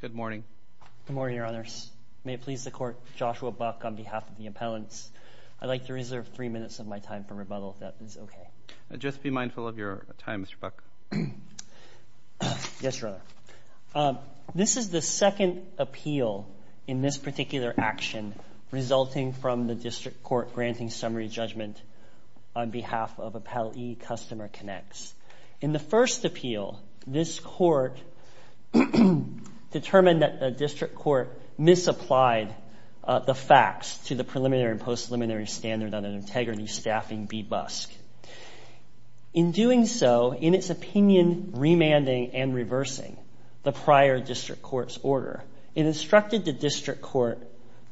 Good morning, Your Honors. May it please the Court, Joshua Buck, on behalf of the appellants, I'd like to reserve three minutes of my time for rebuttal, if that is okay. Just be mindful of your time, Mr. Buck. Yes, Your Honor. This is the second appeal in this particular action resulting from the District Court granting summary judgment on behalf of Appellee Customer Connexx. In the first appeal, this Court determined that the District Court misapplied the facts to the preliminary and post-preliminary standard on an integrity staffing bebusk. In doing so, in its opinion remanding and reversing the prior District Court's order, it instructed the District Court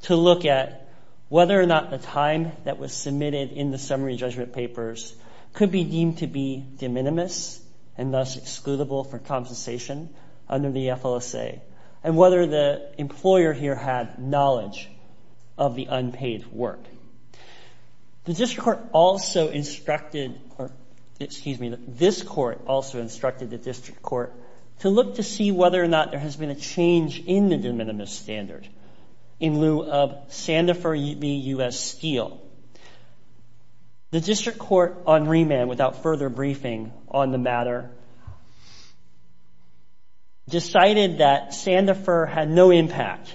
to look at whether or not the time that was submitted in the summary judgment papers could be deemed to be de minimis and thus excludable for compensation under the FLSA, and whether the employer here had knowledge of the unpaid work. The District Court also instructed, or excuse me, this Court also instructed the District Court to look to see whether or not there has been a change in the de minimis standard in lieu of Sandifer beus steel. The District Court on remand, without further briefing on the matter, decided that Sandifer had no impact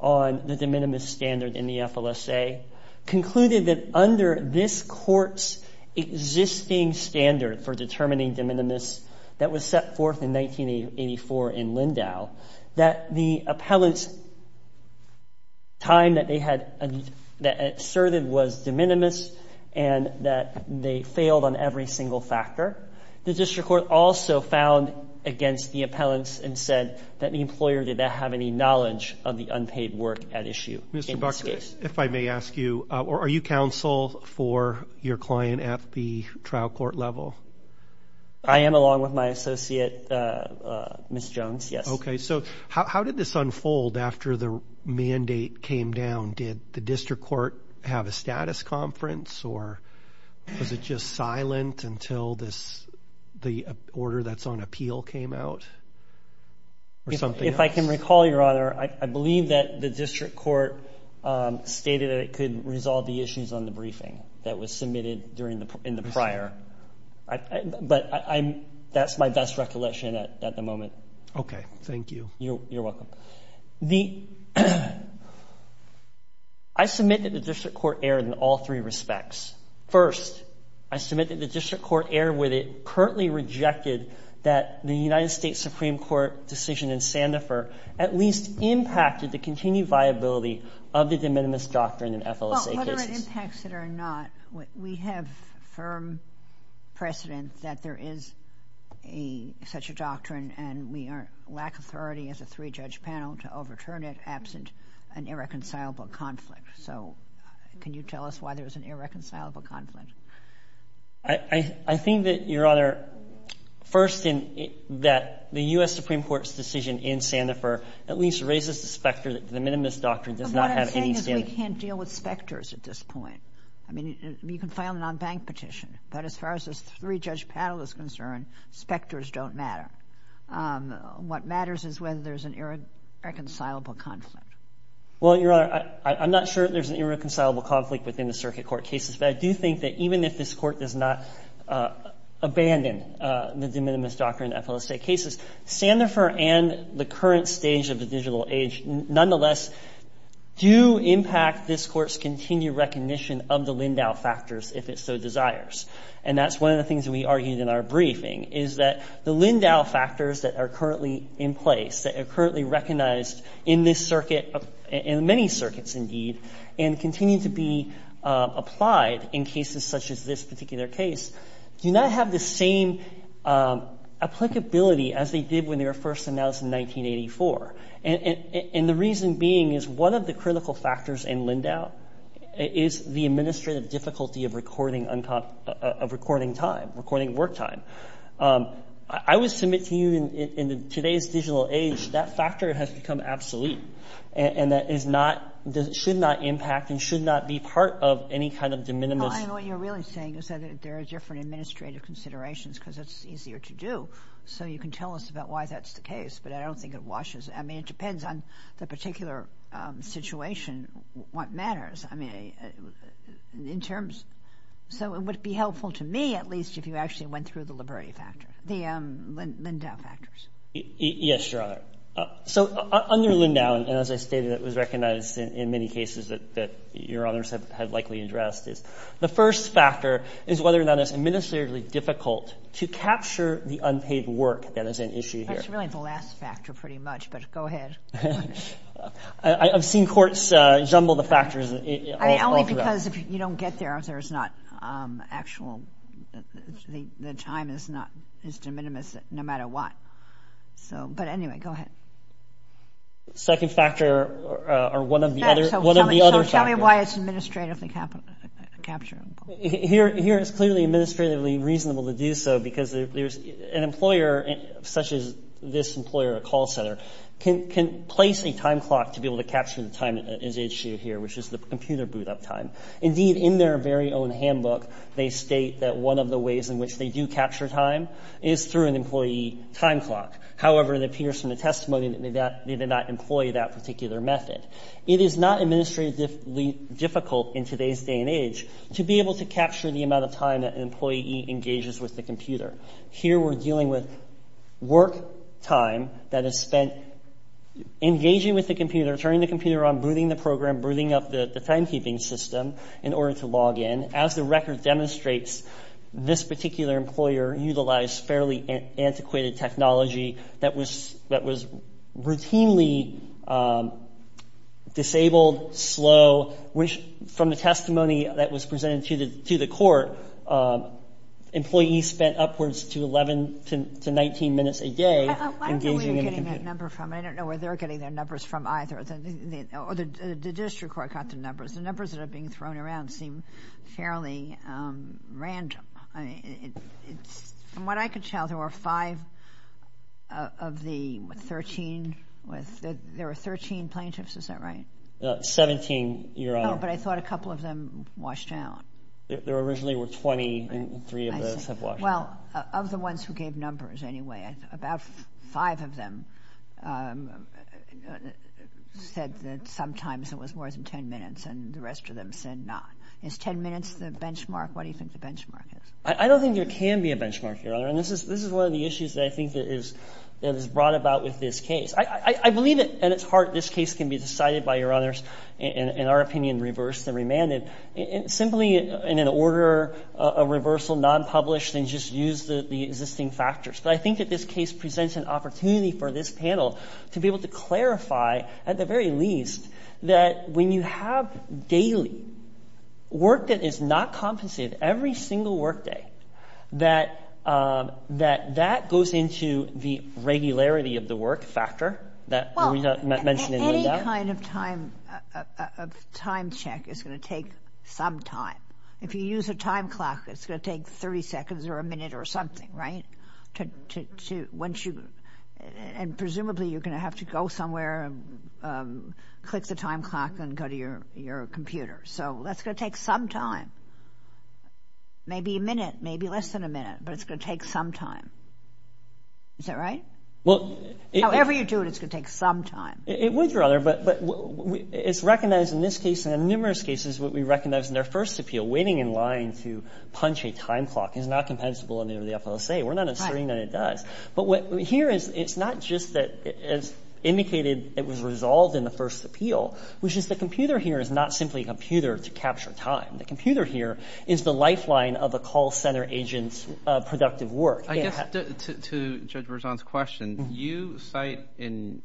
on the de minimis standard in the FLSA, concluded that under this Court's existing standard for determining de minimis that was set forth in 1984 in Lindau, that the appellant's time that they had asserted was de minimis and that they failed on every single factor. The District Court also found against the appellants and said that the employer did not have any knowledge of the unpaid work at issue in this case. Mr. Buckley, if I may ask you, are you counsel for your client at the trial court level? I am, along with my associate, Ms. Jones, yes. Okay, so how did this unfold after the mandate came down? Did the District Court have a status conference, or was it just silent until the order that's on appeal came out, or something else? If I can recall, Your Honor, I believe that the District Court stated that it could resolve the That's my best recollection at the moment. Okay, thank you. You're welcome. I submit that the District Court erred in all three respects. First, I submit that the District Court erred where they currently rejected that the United States Supreme Court decision in Sandifer at least impacted the continued viability of the de minimis doctrine in FLSA cases. Under impacts that are not, we have firm precedent that there is such a doctrine, and we lack authority as a three-judge panel to overturn it absent an irreconcilable conflict. So can you tell us why there's an irreconcilable conflict? I think that, Your Honor, first, that the U.S. Supreme Court's decision in Sandifer at least raises the specter that the de minimis doctrine does not have any standard I really can't deal with specters at this point. I mean, you can file a non-bank petition, but as far as this three-judge panel is concerned, specters don't matter. What matters is whether there's an irreconcilable conflict. Well, Your Honor, I'm not sure that there's an irreconcilable conflict within the circuit court cases, but I do think that even if this Court does not abandon the de minimis doctrine in FLSA cases, Sandifer and the current stage of the digital age nonetheless do impact this Court's continued recognition of the Lindau factors, if it so desires. And that's one of the things that we argued in our briefing, is that the Lindau factors that are currently in place, that are currently recognized in this circuit, in many circuits indeed, and continue to be applied in cases such as this particular case, do not have the same applicability as they did when they were first announced in 1984. And the reason being is one of the critical factors in Lindau is the administrative difficulty of recording time, recording work time. I would submit to you in today's digital age, that factor has become absolute, and that should not impact and should not be part of any kind of de minimis What you're really saying is that there are different administrative considerations because it's easier to do, so you can tell us about why that's the case, but I don't think it washes, I mean it depends on the particular situation, what matters. I mean, in terms, so it would be helpful to me at least if you actually went through the liberty factor, the Lindau factors. Yes, Your Honor. So under Lindau, and as I stated it was recognized in many cases that Your Honors have likely addressed, is the first factor is whether or not it's administratively difficult to capture the unpaid work that is an issue here. That's really the last factor pretty much, but go ahead. I've seen courts jumble the factors all throughout. Only because if you don't get there, there's not actual, the time is not, is de minimis no matter what. So, but anyway, go ahead. Second factor, or one of the other factors. So tell me why it's administratively capturable. Here it's clearly administratively reasonable to do so because there's an employer, such as this employer, a call center, can place a time clock to be able to capture the time that is issued here, which is the computer boot up time. Indeed, in their very own handbook, they state that one of the ways in which they do capture time is through an employee time clock. However, it appears from the testimony that they did not employ that particular method. It is not administratively difficult in today's day and age to be able to capture the amount of time that an employee engages with the computer. Here we're dealing with work time that is spent engaging with the computer, turning the computer on, booting the program, booting up the timekeeping system in order to log in. As the record demonstrates, this particular employer utilized fairly antiquated technology that was routinely disabled, slow, which from the testimony that was presented to the court, employees spent upwards to 11 to 19 minutes a day engaging in the computer. I don't know where you're getting that number from. I don't know where they're getting their numbers from either. The district court got the numbers. The numbers that are being thrown around seem fairly random. From what I could tell, there were five of the 13. There were 13 plaintiffs. Is that Seventeen, Your Honor. No, but I thought a couple of them washed out. There originally were 20 and three of those have washed out. Well, of the ones who gave numbers anyway, about five of them said that sometimes it was more than 10 minutes and the rest of them said not. Is 10 minutes the benchmark? What do you think the benchmark is? I don't think there can be a benchmark, Your Honor, and this is one of the issues that I think is brought about with this case. I believe at its heart this case can be decided by, Your Honors, in our opinion, reversed and remanded, simply in an order of reversal, non-published, and just use the existing factors. But I think that this case presents an opportunity for this panel to be able to clarify, at the very least, that when you have daily work that is not compensated, every single work day, that that goes into the regularity of the work factor that we mentioned in Linda. Any kind of time check is going to take some time. If you use a time clock, it's going to take 30 seconds or a minute or something, right? And presumably you're going to have to go somewhere, click the time clock, and go to your computer. So that's going to take some time. Maybe a minute, maybe less than a minute, but it's going to take some time. Is that right? Well... However you do it, it's going to take some time. It would, Your Honor, but it's recognized in this case and in numerous cases what we We're not asserting that it does. But what we hear is it's not just that it's indicated it was resolved in the first appeal, which is the computer here is not simply a computer to capture time. The computer here is the lifeline of a call center agent's productive work. I guess to Judge Berzon's question, you cite in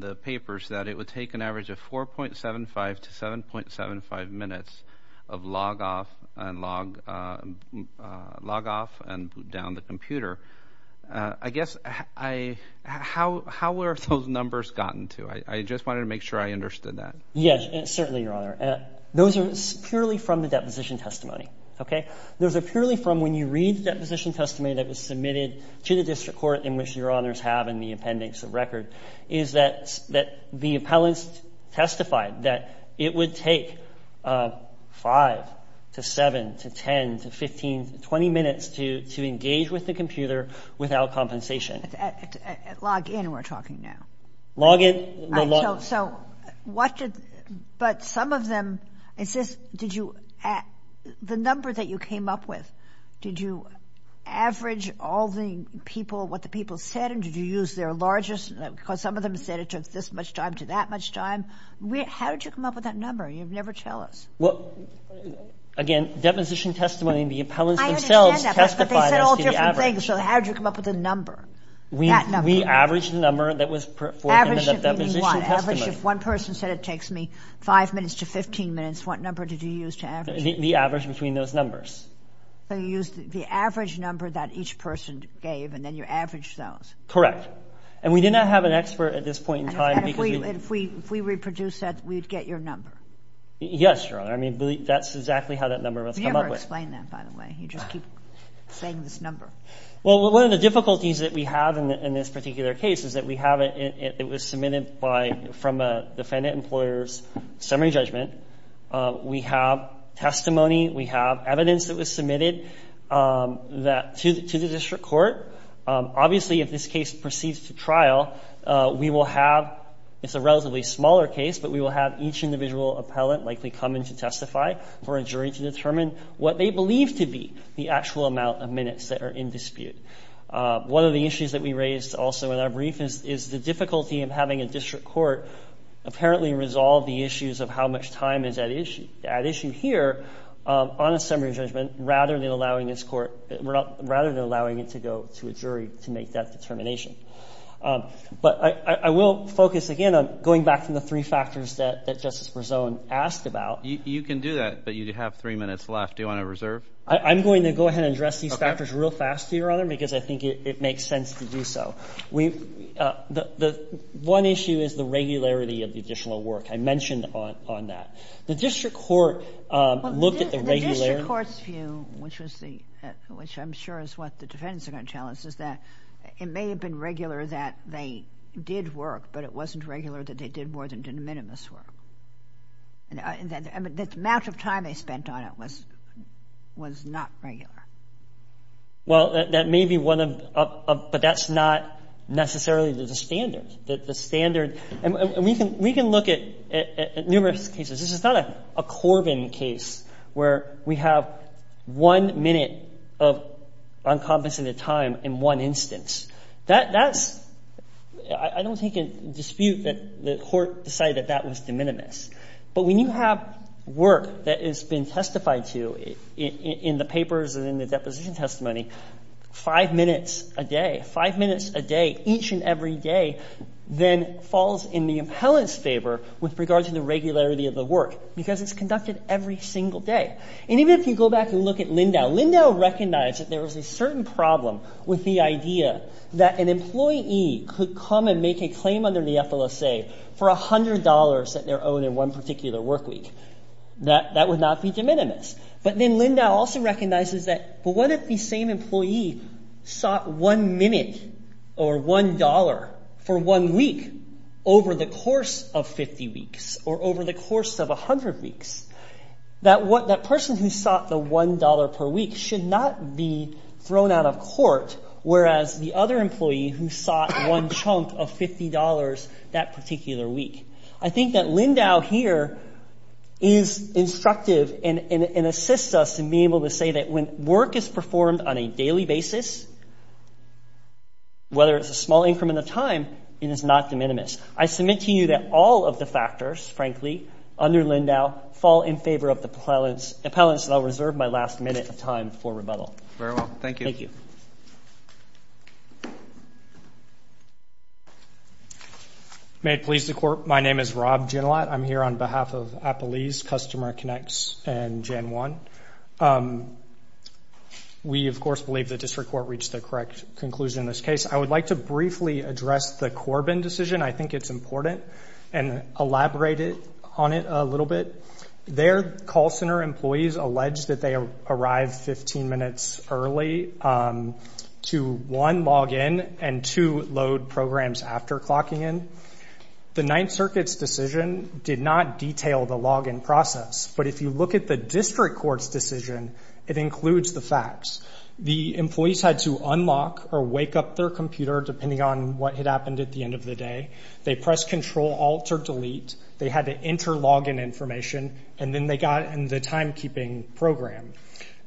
the papers that it would take an average of 4.75 to 7.75 minutes of log off and down the computer. I guess how were those numbers gotten to? I just wanted to make sure I understood that. Yes, certainly, Your Honor. Those are purely from the deposition testimony, okay? Those are purely from when you read the deposition testimony that was submitted to the district court in which Your Honors have in the appendix of record, is that the appellants testified that it would take 5 to 7 to 10 to 15 to 20 minutes to engage with the computer without compensation. Log in, we're talking now. Log in... So what did... But some of them... Is this... Did you... The number that you came up with, did you average all the people, what the people said, and did you use their largest... Because some of them said it took this much time to that much time. How did you come up with that number? You never tell us. Well, again, deposition testimony, the appellants themselves testified... I understand that, but they said all different things, so how did you come up with the number? That number. We averaged the number that was... Average of what? Average if one person said it takes me 5 minutes to 15 minutes, what number did you use to average it? The average between those numbers. So you used the average number that each person gave and then you averaged those. Correct. And we did not have an expert at this point in time because... And if we reproduced that, we'd get your number. Yes, Your Honor. I mean, that's exactly how that number was come up with. You never explain that, by the way. You just keep saying this number. Well, one of the difficulties that we have in this particular case is that we have... It was submitted by... From a defendant employer's summary judgment. We have testimony, we have evidence that was submitted to the district court. Obviously, if this case proceeds to trial, we will have... It's a relatively smaller case, but we will have each individual appellant likely come in to testify for a jury to determine what they believe to be the actual amount of minutes that are in dispute. One of the issues that we raised also in our brief is the difficulty of having a district court apparently resolve the issues of how much time is at issue here on a summary judgment rather than allowing this court... Rather than allowing it to go to a jury to make that determination. But I will focus again on going back to the three factors that Justice Berzon asked about. You can do that, but you have three minutes left. Do you want to reserve? I'm going to go ahead and address these factors real fast, Your Honor, because I think it makes sense to do so. The one issue is the regularity of the additional work. I mentioned on that. The district court looked at the regularity... The district court's view, which I'm sure is what the defendants are going to tell us, is that it may have been regular that they did work, but it wasn't regular that they did more than did minimus work. The amount of time they spent on it was not regular. Well, that may be one of... But that's not necessarily the standard. The standard... And we can look at numerous cases. This is not a Corbin case where we have one minute of uncompensated time in one instance. That's... I don't think in dispute that the court decided that that was de minimis. But when you have work that has been testified to in the papers and in the deposition testimony, five minutes a day, each and every day, then falls in the appellant's favor with regard to the regularity of the work because it's conducted every single day. And even if you go back and look at Lindau, Lindau recognized that there was a certain problem with the idea that an employee could come and make a claim under the FLSA for $100 that they're owed in one particular work week. That would not be de minimis. But then Lindau also recognizes that what if the same employee sought one minute or $1 for one week over the course of 50 weeks or over the course of 100 weeks? That person who sought the $1 per week should not be thrown out of court, whereas the other employee who sought one chunk of $50 that particular week. I think that Lindau here is instructive and assists us in being able to say that when work is performed on a daily basis, whether it's a small increment of time, it is not de minimis. I submit to you that all of the factors, frankly, under Lindau fall in favor of the appellants and I'll reserve my last minute of time for rebuttal. Very well. Thank you. Thank you. May it please the Court, my name is Rob Ginalat. I'm here on behalf of Appalese, Customer Connects, and Gen 1. We, of course, believe the District Court reached the correct conclusion in this case. I would like to briefly address the Corbin decision. I think it's important and elaborate on it a little bit. Their call center employees allege that they arrived 15 minutes early to, one, log in, and, two, load programs after clocking in. The Ninth Circuit's decision did not detail the log-in process, but if you look at the District Court's decision, it includes the facts. The employees had to unlock or wake up their computer, depending on what had happened at the end of the day. They pressed Control, Alt, or Delete. They had to enter log-in information, and then they got in the timekeeping program.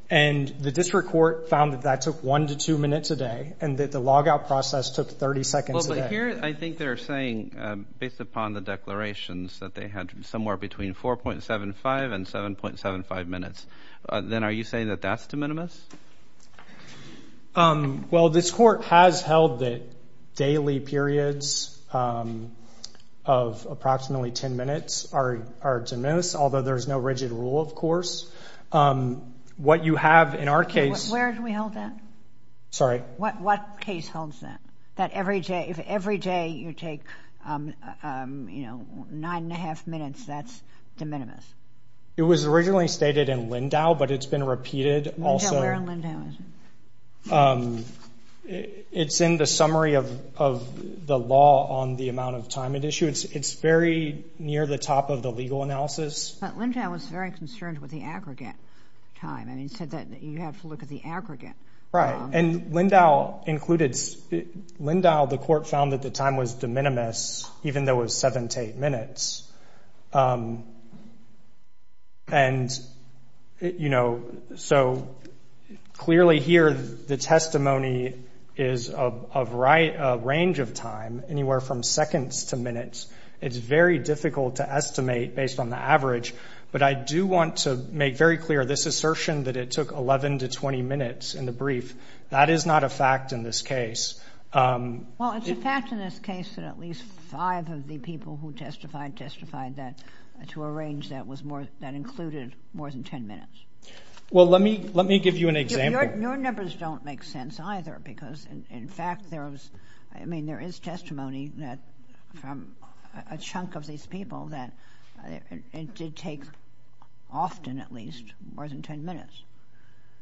And the District Court found that that took one to two minutes a day and that the log-out process took 30 seconds a day. Well, but here I think they're saying, based upon the declarations, that they had somewhere between 4.75 and 7.75 minutes. Then are you saying that that's de minimis? Well, this court has held that daily periods of approximately 10 minutes are de minimis, although there's no rigid rule, of course. What you have in our case— Where do we hold that? Sorry? What case holds that? That every day, if every day you take, you know, nine and a half minutes, that's de minimis? It was originally stated in Lindau, but it's been repeated also. Where in Lindau is it? It's in the summary of the law on the amount of time at issue. It's very near the top of the legal analysis. But Lindau was very concerned with the aggregate time, and he said that you have to look at the aggregate. Right. And Lindau included—Lindau, the court found that the time was de minimis, even though it was seven to eight minutes. And, you know, so clearly here the testimony is a range of time, anywhere from seconds to minutes. It's very difficult to estimate based on the average, but I do want to make very clear this assertion that it took 11 to 20 minutes in the brief. That is not a fact in this case. Well, it's a fact in this case that at least five of the people who testified today testified that to a range that was more—that included more than 10 minutes. Well, let me give you an example. Your numbers don't make sense either because, in fact, there was—I mean, there is testimony from a chunk of these people that it did take often at least more than 10 minutes.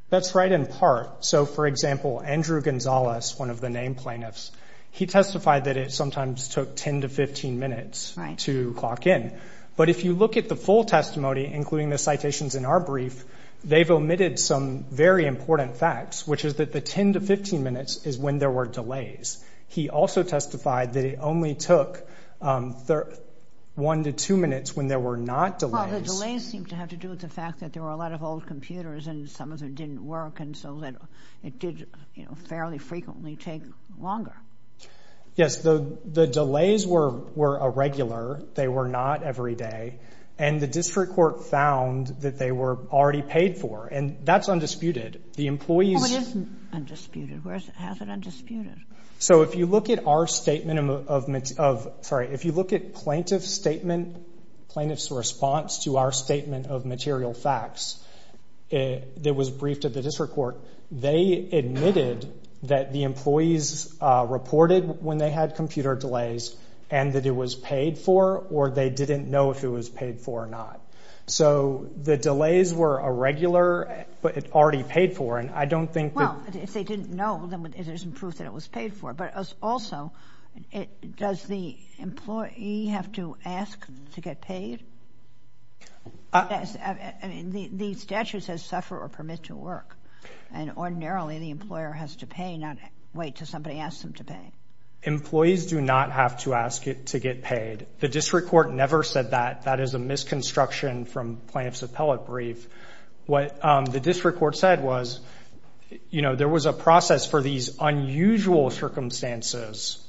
That's right in part. So, for example, Andrew Gonzalez, one of the name plaintiffs, he testified that it sometimes took 10 to 15 minutes to clock in. But if you look at the full testimony, including the citations in our brief, they've omitted some very important facts, which is that the 10 to 15 minutes is when there were delays. He also testified that it only took one to two minutes when there were not delays. Well, the delays seemed to have to do with the fact that there were a lot of old computers and some of them didn't work and so that it did, you know, fairly frequently take longer. Yes. The delays were irregular. They were not every day. And the district court found that they were already paid for. And that's undisputed. The employees— Well, it isn't undisputed. Where is it? How is it undisputed? So, if you look at our statement of—sorry. If you look at plaintiff's statement, plaintiff's response to our statement of material facts that was briefed at the district court, they admitted that the employees reported when they had computer delays and that it was paid for or they didn't know if it was paid for or not. So, the delays were irregular, but it already paid for. And I don't think that— Well, if they didn't know, then it isn't proof that it was paid for. But also, does the employee have to ask to get paid? I mean, the statute says suffer or permit to work. And ordinarily, the employer has to pay, not wait till somebody asks them to pay. Employees do not have to ask to get paid. The district court never said that. That is a misconstruction from plaintiff's appellate brief. What the district court said was, you know, there was a process for these unusual circumstances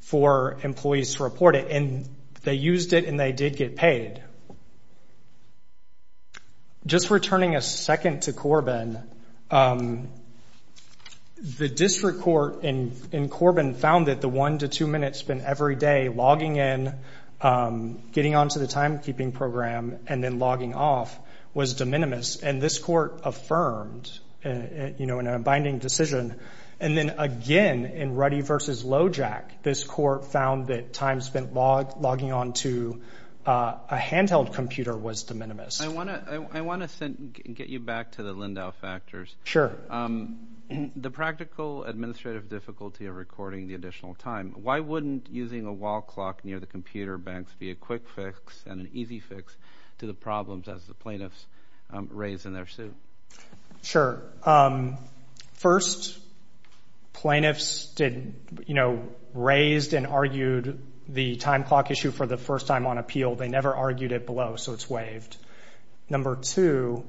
for employees to report it, and they used it and they did get paid. Just returning a second to Corbin, the district court in Corbin found that the one to two minutes spent every day logging in, getting on to the timekeeping program, and then logging off was de minimis. And this court affirmed, you know, in a binding decision. And then again in Ruddy v. Lojack, this court found that time spent logging on to a handheld computer was de minimis. I want to get you back to the Lindau factors. Sure. The practical administrative difficulty of recording the additional time, why wouldn't using a wall clock near the computer banks be a quick fix and an easy fix to the problems as the plaintiffs raised in their suit? Sure. First, plaintiffs did, you know, raised and argued the time clock issue for the first time on appeal. They never argued it below, so it's waived. Number two,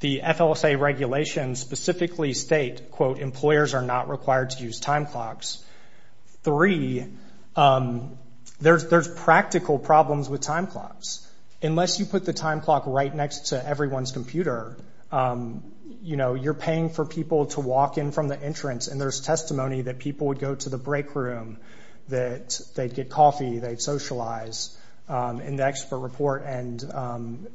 the FLSA regulations specifically state, quote, employers are not required to use time clocks. Three, there's practical problems with time clocks. Unless you put the time clock right next to everyone's computer, you know, you're paying for people to walk in from the entrance, and there's testimony that people would go to the break room, that they'd get coffee, they'd socialize in the expert report and,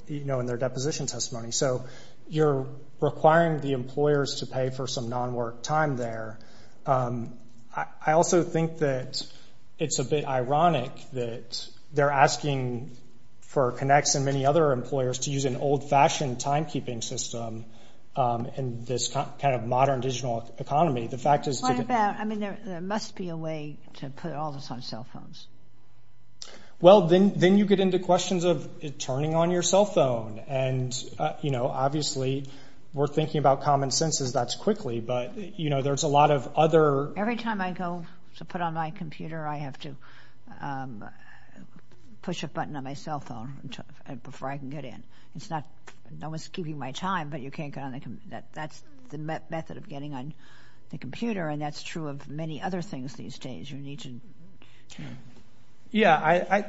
you know, in their deposition testimony. So you're requiring the employers to pay for some non-work time there. I also think that it's a bit ironic that they're asking for Connex and many other employers to use an old-fashioned timekeeping system in this kind of modern digital economy. What about, I mean, there must be a way to put all this on cell phones. Well, then you get into questions of turning on your cell phone, and, you know, obviously we're thinking about common sense as that's quickly, but, you know, there's a lot of other— Every time I go to put on my computer, I have to push a button on my cell phone before I can get in. It's not—no one's keeping my time, but you can't get on the— that's the method of getting on the computer, and that's true of many other things these days. You need to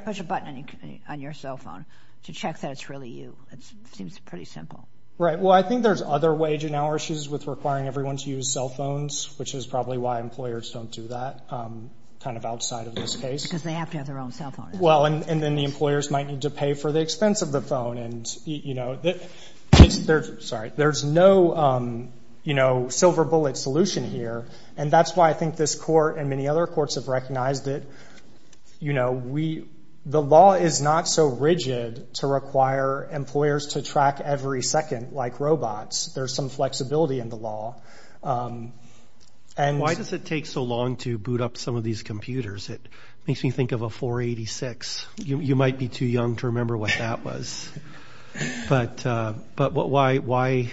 push a button on your cell phone to check that it's really you. It seems pretty simple. Right. Well, I think there's other wage and hour issues with requiring everyone to use cell phones, which is probably why employers don't do that kind of outside of this case. Because they have to have their own cell phone. Well, and then the employers might need to pay for the expense of the phone, and, you know, there's no, you know, silver bullet solution here, and that's why I think this court and many other courts have recognized it. You know, we—the law is not so rigid to require employers to track every second like robots. There's some flexibility in the law, and— Why does it take so long to boot up some of these computers? It makes me think of a 486. You might be too young to remember what that was, but why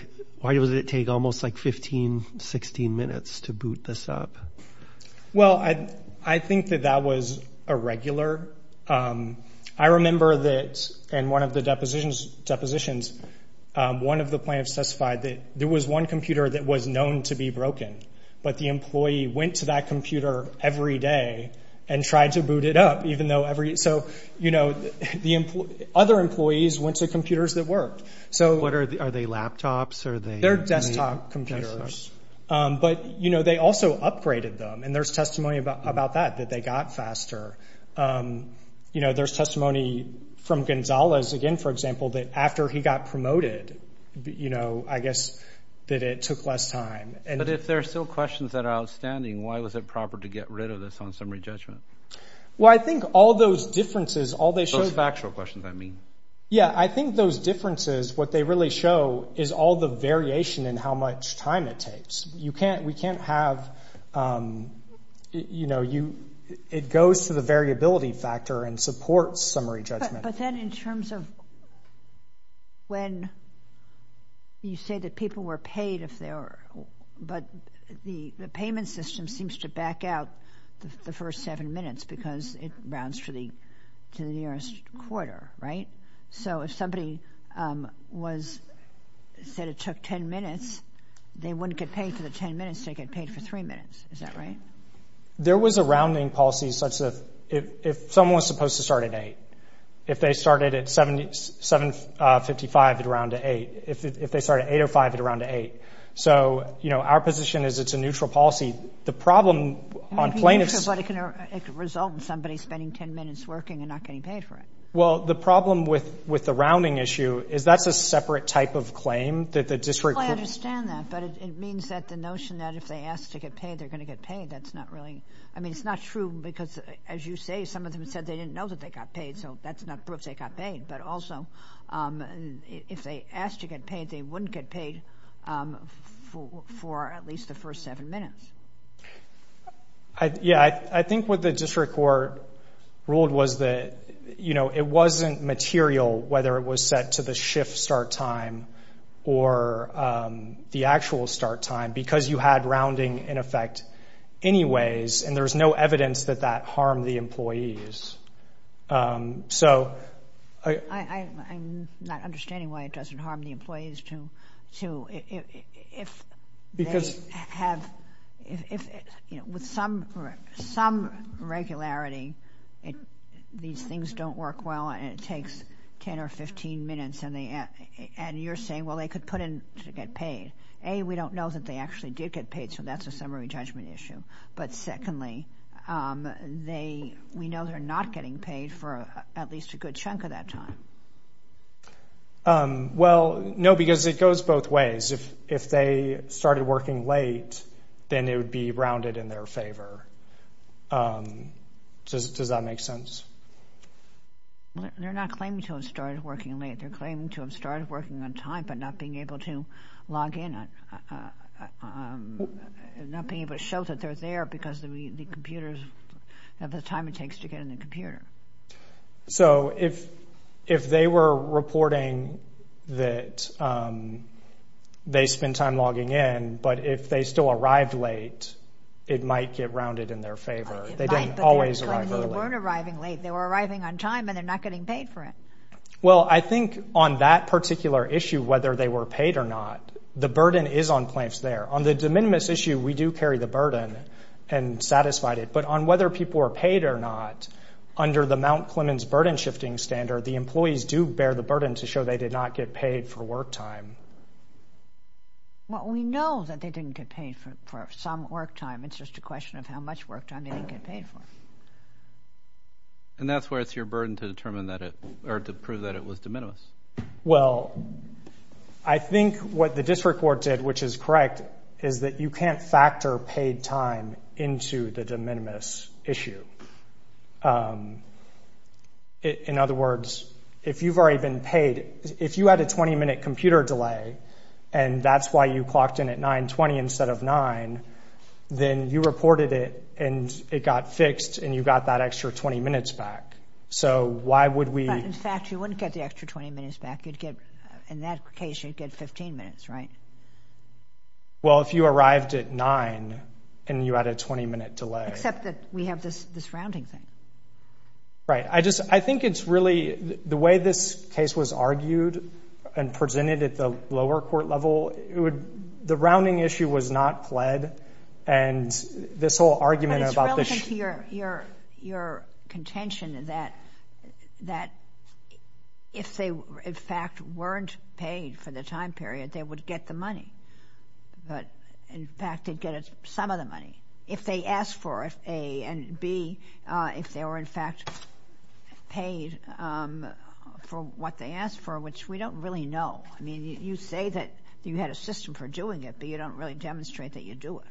does it take almost like 15, 16 minutes to boot this up? Well, I think that that was irregular. I remember that in one of the depositions, one of the plaintiffs testified that there was one computer that was known to be broken, but the employee went to that computer every day and tried to boot it up, even though every— So, you know, the other employees went to computers that worked. So— Are they laptops? Are they— They're desktop computers. Desktop. But, you know, they also upgraded them, and there's testimony about that, that they got faster. You know, there's testimony from Gonzales again, for example, that after he got promoted, you know, I guess that it took less time. But if there are still questions that are outstanding, why was it proper to get rid of this on summary judgment? Well, I think all those differences, all they show— Those factual questions, I mean. Yeah, I think those differences, what they really show is all the variation in how much time it takes. You can't—we can't have, you know, you—it goes to the variability factor and supports summary judgment. But then in terms of when you say that people were paid if they were— But the payment system seems to back out the first seven minutes because it rounds to the nearest quarter, right? So if somebody was—said it took 10 minutes, they wouldn't get paid for the 10 minutes, they'd get paid for three minutes. Is that right? There was a rounding policy such that if someone was supposed to start at 8, if they started at 7.55, they'd round to 8. If they started at 8.05, they'd round to 8. So, you know, our position is it's a neutral policy. The problem on plaintiffs— Maybe neutral, but it can result in somebody spending 10 minutes working and not getting paid for it. Well, the problem with the rounding issue is that's a separate type of claim that the district could— Well, I understand that. But it means that the notion that if they ask to get paid, they're going to get paid, that's not really— I mean, it's not true because, as you say, some of them said they didn't know that they got paid, so that's not proof they got paid. But also, if they asked to get paid, they wouldn't get paid for at least the first seven minutes. Yeah, I think what the district court ruled was that, you know, it wasn't material whether it was set to the shift start time or the actual start time because you had rounding in effect anyways, and there's no evidence that that harmed the employees. So— I'm not understanding why it doesn't harm the employees to— Because— If they have—with some regularity, these things don't work well and it takes 10 or 15 minutes, and you're saying, well, they could put in to get paid. A, we don't know that they actually did get paid, so that's a summary judgment issue. But secondly, they—we know they're not getting paid for at least a good chunk of that time. Well, no, because it goes both ways. If they started working late, then it would be rounded in their favor. Does that make sense? They're not claiming to have started working late. They're claiming to have started working on time but not being able to log in, not being able to show that they're there because the computers, the time it takes to get in the computer. So if they were reporting that they spent time logging in, but if they still arrived late, it might get rounded in their favor. They didn't always arrive early. They weren't arriving late. They were arriving on time and they're not getting paid for it. Well, I think on that particular issue, whether they were paid or not, the burden is on plaintiffs there. On the de minimis issue, we do carry the burden and satisfy it. But on whether people are paid or not, under the Mount Clemens burden-shifting standard, the employees do bear the burden to show they did not get paid for work time. Well, we know that they didn't get paid for some work time. It's just a question of how much work time they didn't get paid for. And that's where it's your burden to determine that it—or to prove that it was de minimis. Well, I think what the district court did, which is correct, is that you can't factor paid time into the de minimis issue. In other words, if you've already been paid, if you had a 20-minute computer delay and that's why you clocked in at 9.20 instead of 9.00, then you reported it and it got fixed and you got that extra 20 minutes back. So why would we— In that case, you'd get 15 minutes, right? Well, if you arrived at 9.00 and you had a 20-minute delay. Except that we have this rounding thing. Right. I just—I think it's really—the way this case was argued and presented at the lower court level, the rounding issue was not pled. And this whole argument about the— It's your contention that if they, in fact, weren't paid for the time period, they would get the money. But, in fact, they'd get some of the money if they asked for it, A. And, B, if they were, in fact, paid for what they asked for, which we don't really know. I mean, you say that you had a system for doing it, but you don't really demonstrate that you do it.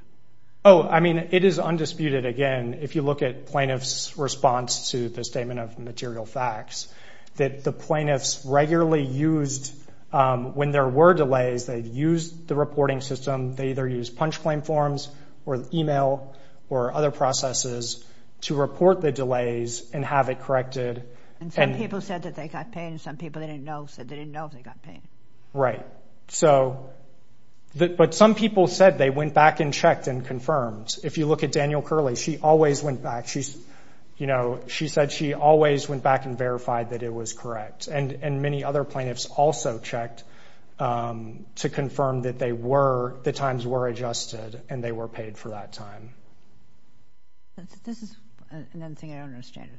Oh, I mean, it is undisputed, again. If you look at plaintiffs' response to the Statement of Material Facts, that the plaintiffs regularly used—when there were delays, they'd use the reporting system. They either used punch claim forms or email or other processes to report the delays and have it corrected. And some people said that they got paid, and some people they didn't know said they didn't know if they got paid. Right. But some people said they went back and checked and confirmed. If you look at Daniel Curley, she always went back. You know, she said she always went back and verified that it was correct. And many other plaintiffs also checked to confirm that they were— the times were adjusted and they were paid for that time. This is another thing I don't understand.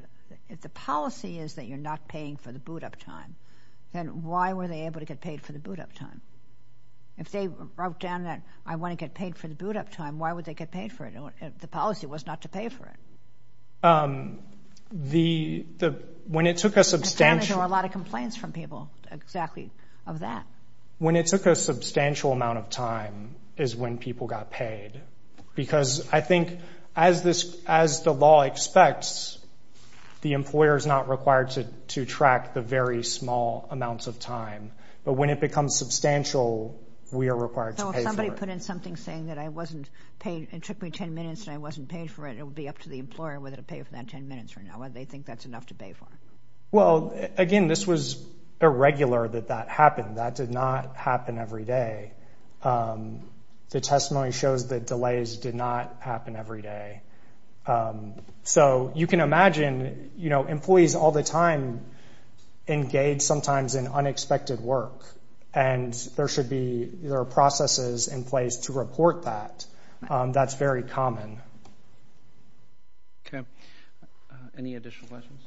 If the policy is that you're not paying for the boot-up time, then why were they able to get paid for the boot-up time? If they wrote down that, I want to get paid for the boot-up time, why would they get paid for it if the policy was not to pay for it? The—when it took a substantial— At times there were a lot of complaints from people, exactly, of that. When it took a substantial amount of time is when people got paid. Because I think as the law expects, the employer is not required to track the very small amounts of time. Somebody put in something saying that I wasn't paid— it took me 10 minutes and I wasn't paid for it. It would be up to the employer whether to pay for that 10 minutes or not. Whether they think that's enough to pay for. Well, again, this was irregular that that happened. That did not happen every day. The testimony shows that delays did not happen every day. So you can imagine, you know, employees all the time engage sometimes in unexpected work. And there should be—there are processes in place to report that. That's very common. Okay. Any additional questions?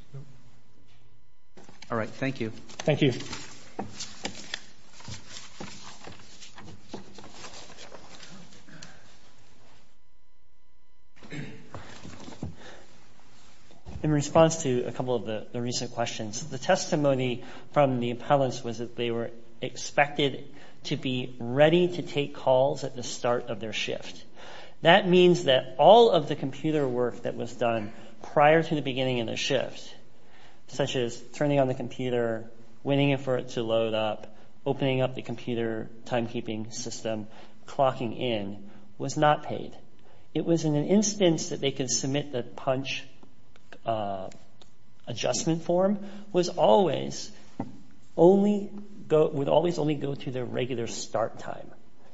All right. Thank you. Thank you. In response to a couple of the recent questions, the testimony from the appellants was that they were expected to be ready to take calls at the start of their shift. That means that all of the computer work that was done prior to the beginning of the shift, such as turning on the computer, waiting for it to load up, opening up the computer timekeeping system, clocking in, was not paid. It was in an instance that they could submit the punch adjustment form, was always only—would always only go to their regular start time.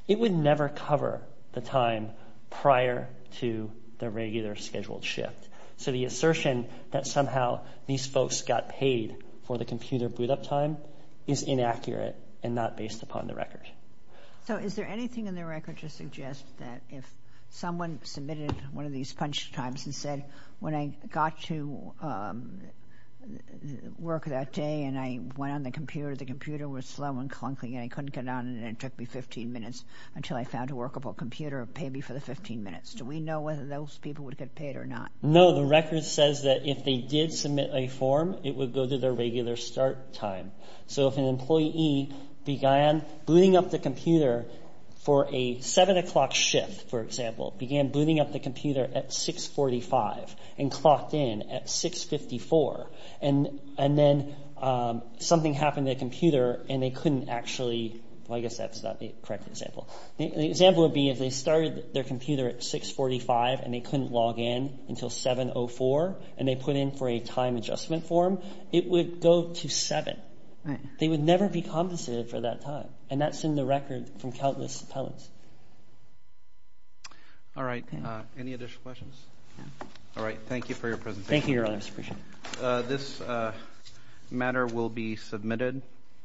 It would never cover the time prior to the regular scheduled shift. So the assertion that somehow these folks got paid for the computer boot-up time is inaccurate and not based upon the record. So is there anything in the record to suggest that if someone submitted one of these punch times and said, when I got to work that day and I went on the computer, the computer was slow and clunky and I couldn't get on it and it took me 15 minutes until I found a workable computer, pay me for the 15 minutes. Do we know whether those people would get paid or not? No. The record says that if they did submit a form, it would go to their regular start time. So if an employee began booting up the computer for a 7 o'clock shift, for example, began booting up the computer at 6.45 and clocked in at 6.54 and then something happened to the computer and they couldn't actually— well, I guess that's not the correct example. The example would be if they started their computer at 6.45 and they couldn't log in until 7.04 and they put in for a time adjustment form, it would go to 7. They would never be compensated for that time. And that's in the record from countless appellants. All right. Any additional questions? All right. Thank you for your presentation. Thank you, Your Honor. I appreciate it. This matter will be submitted.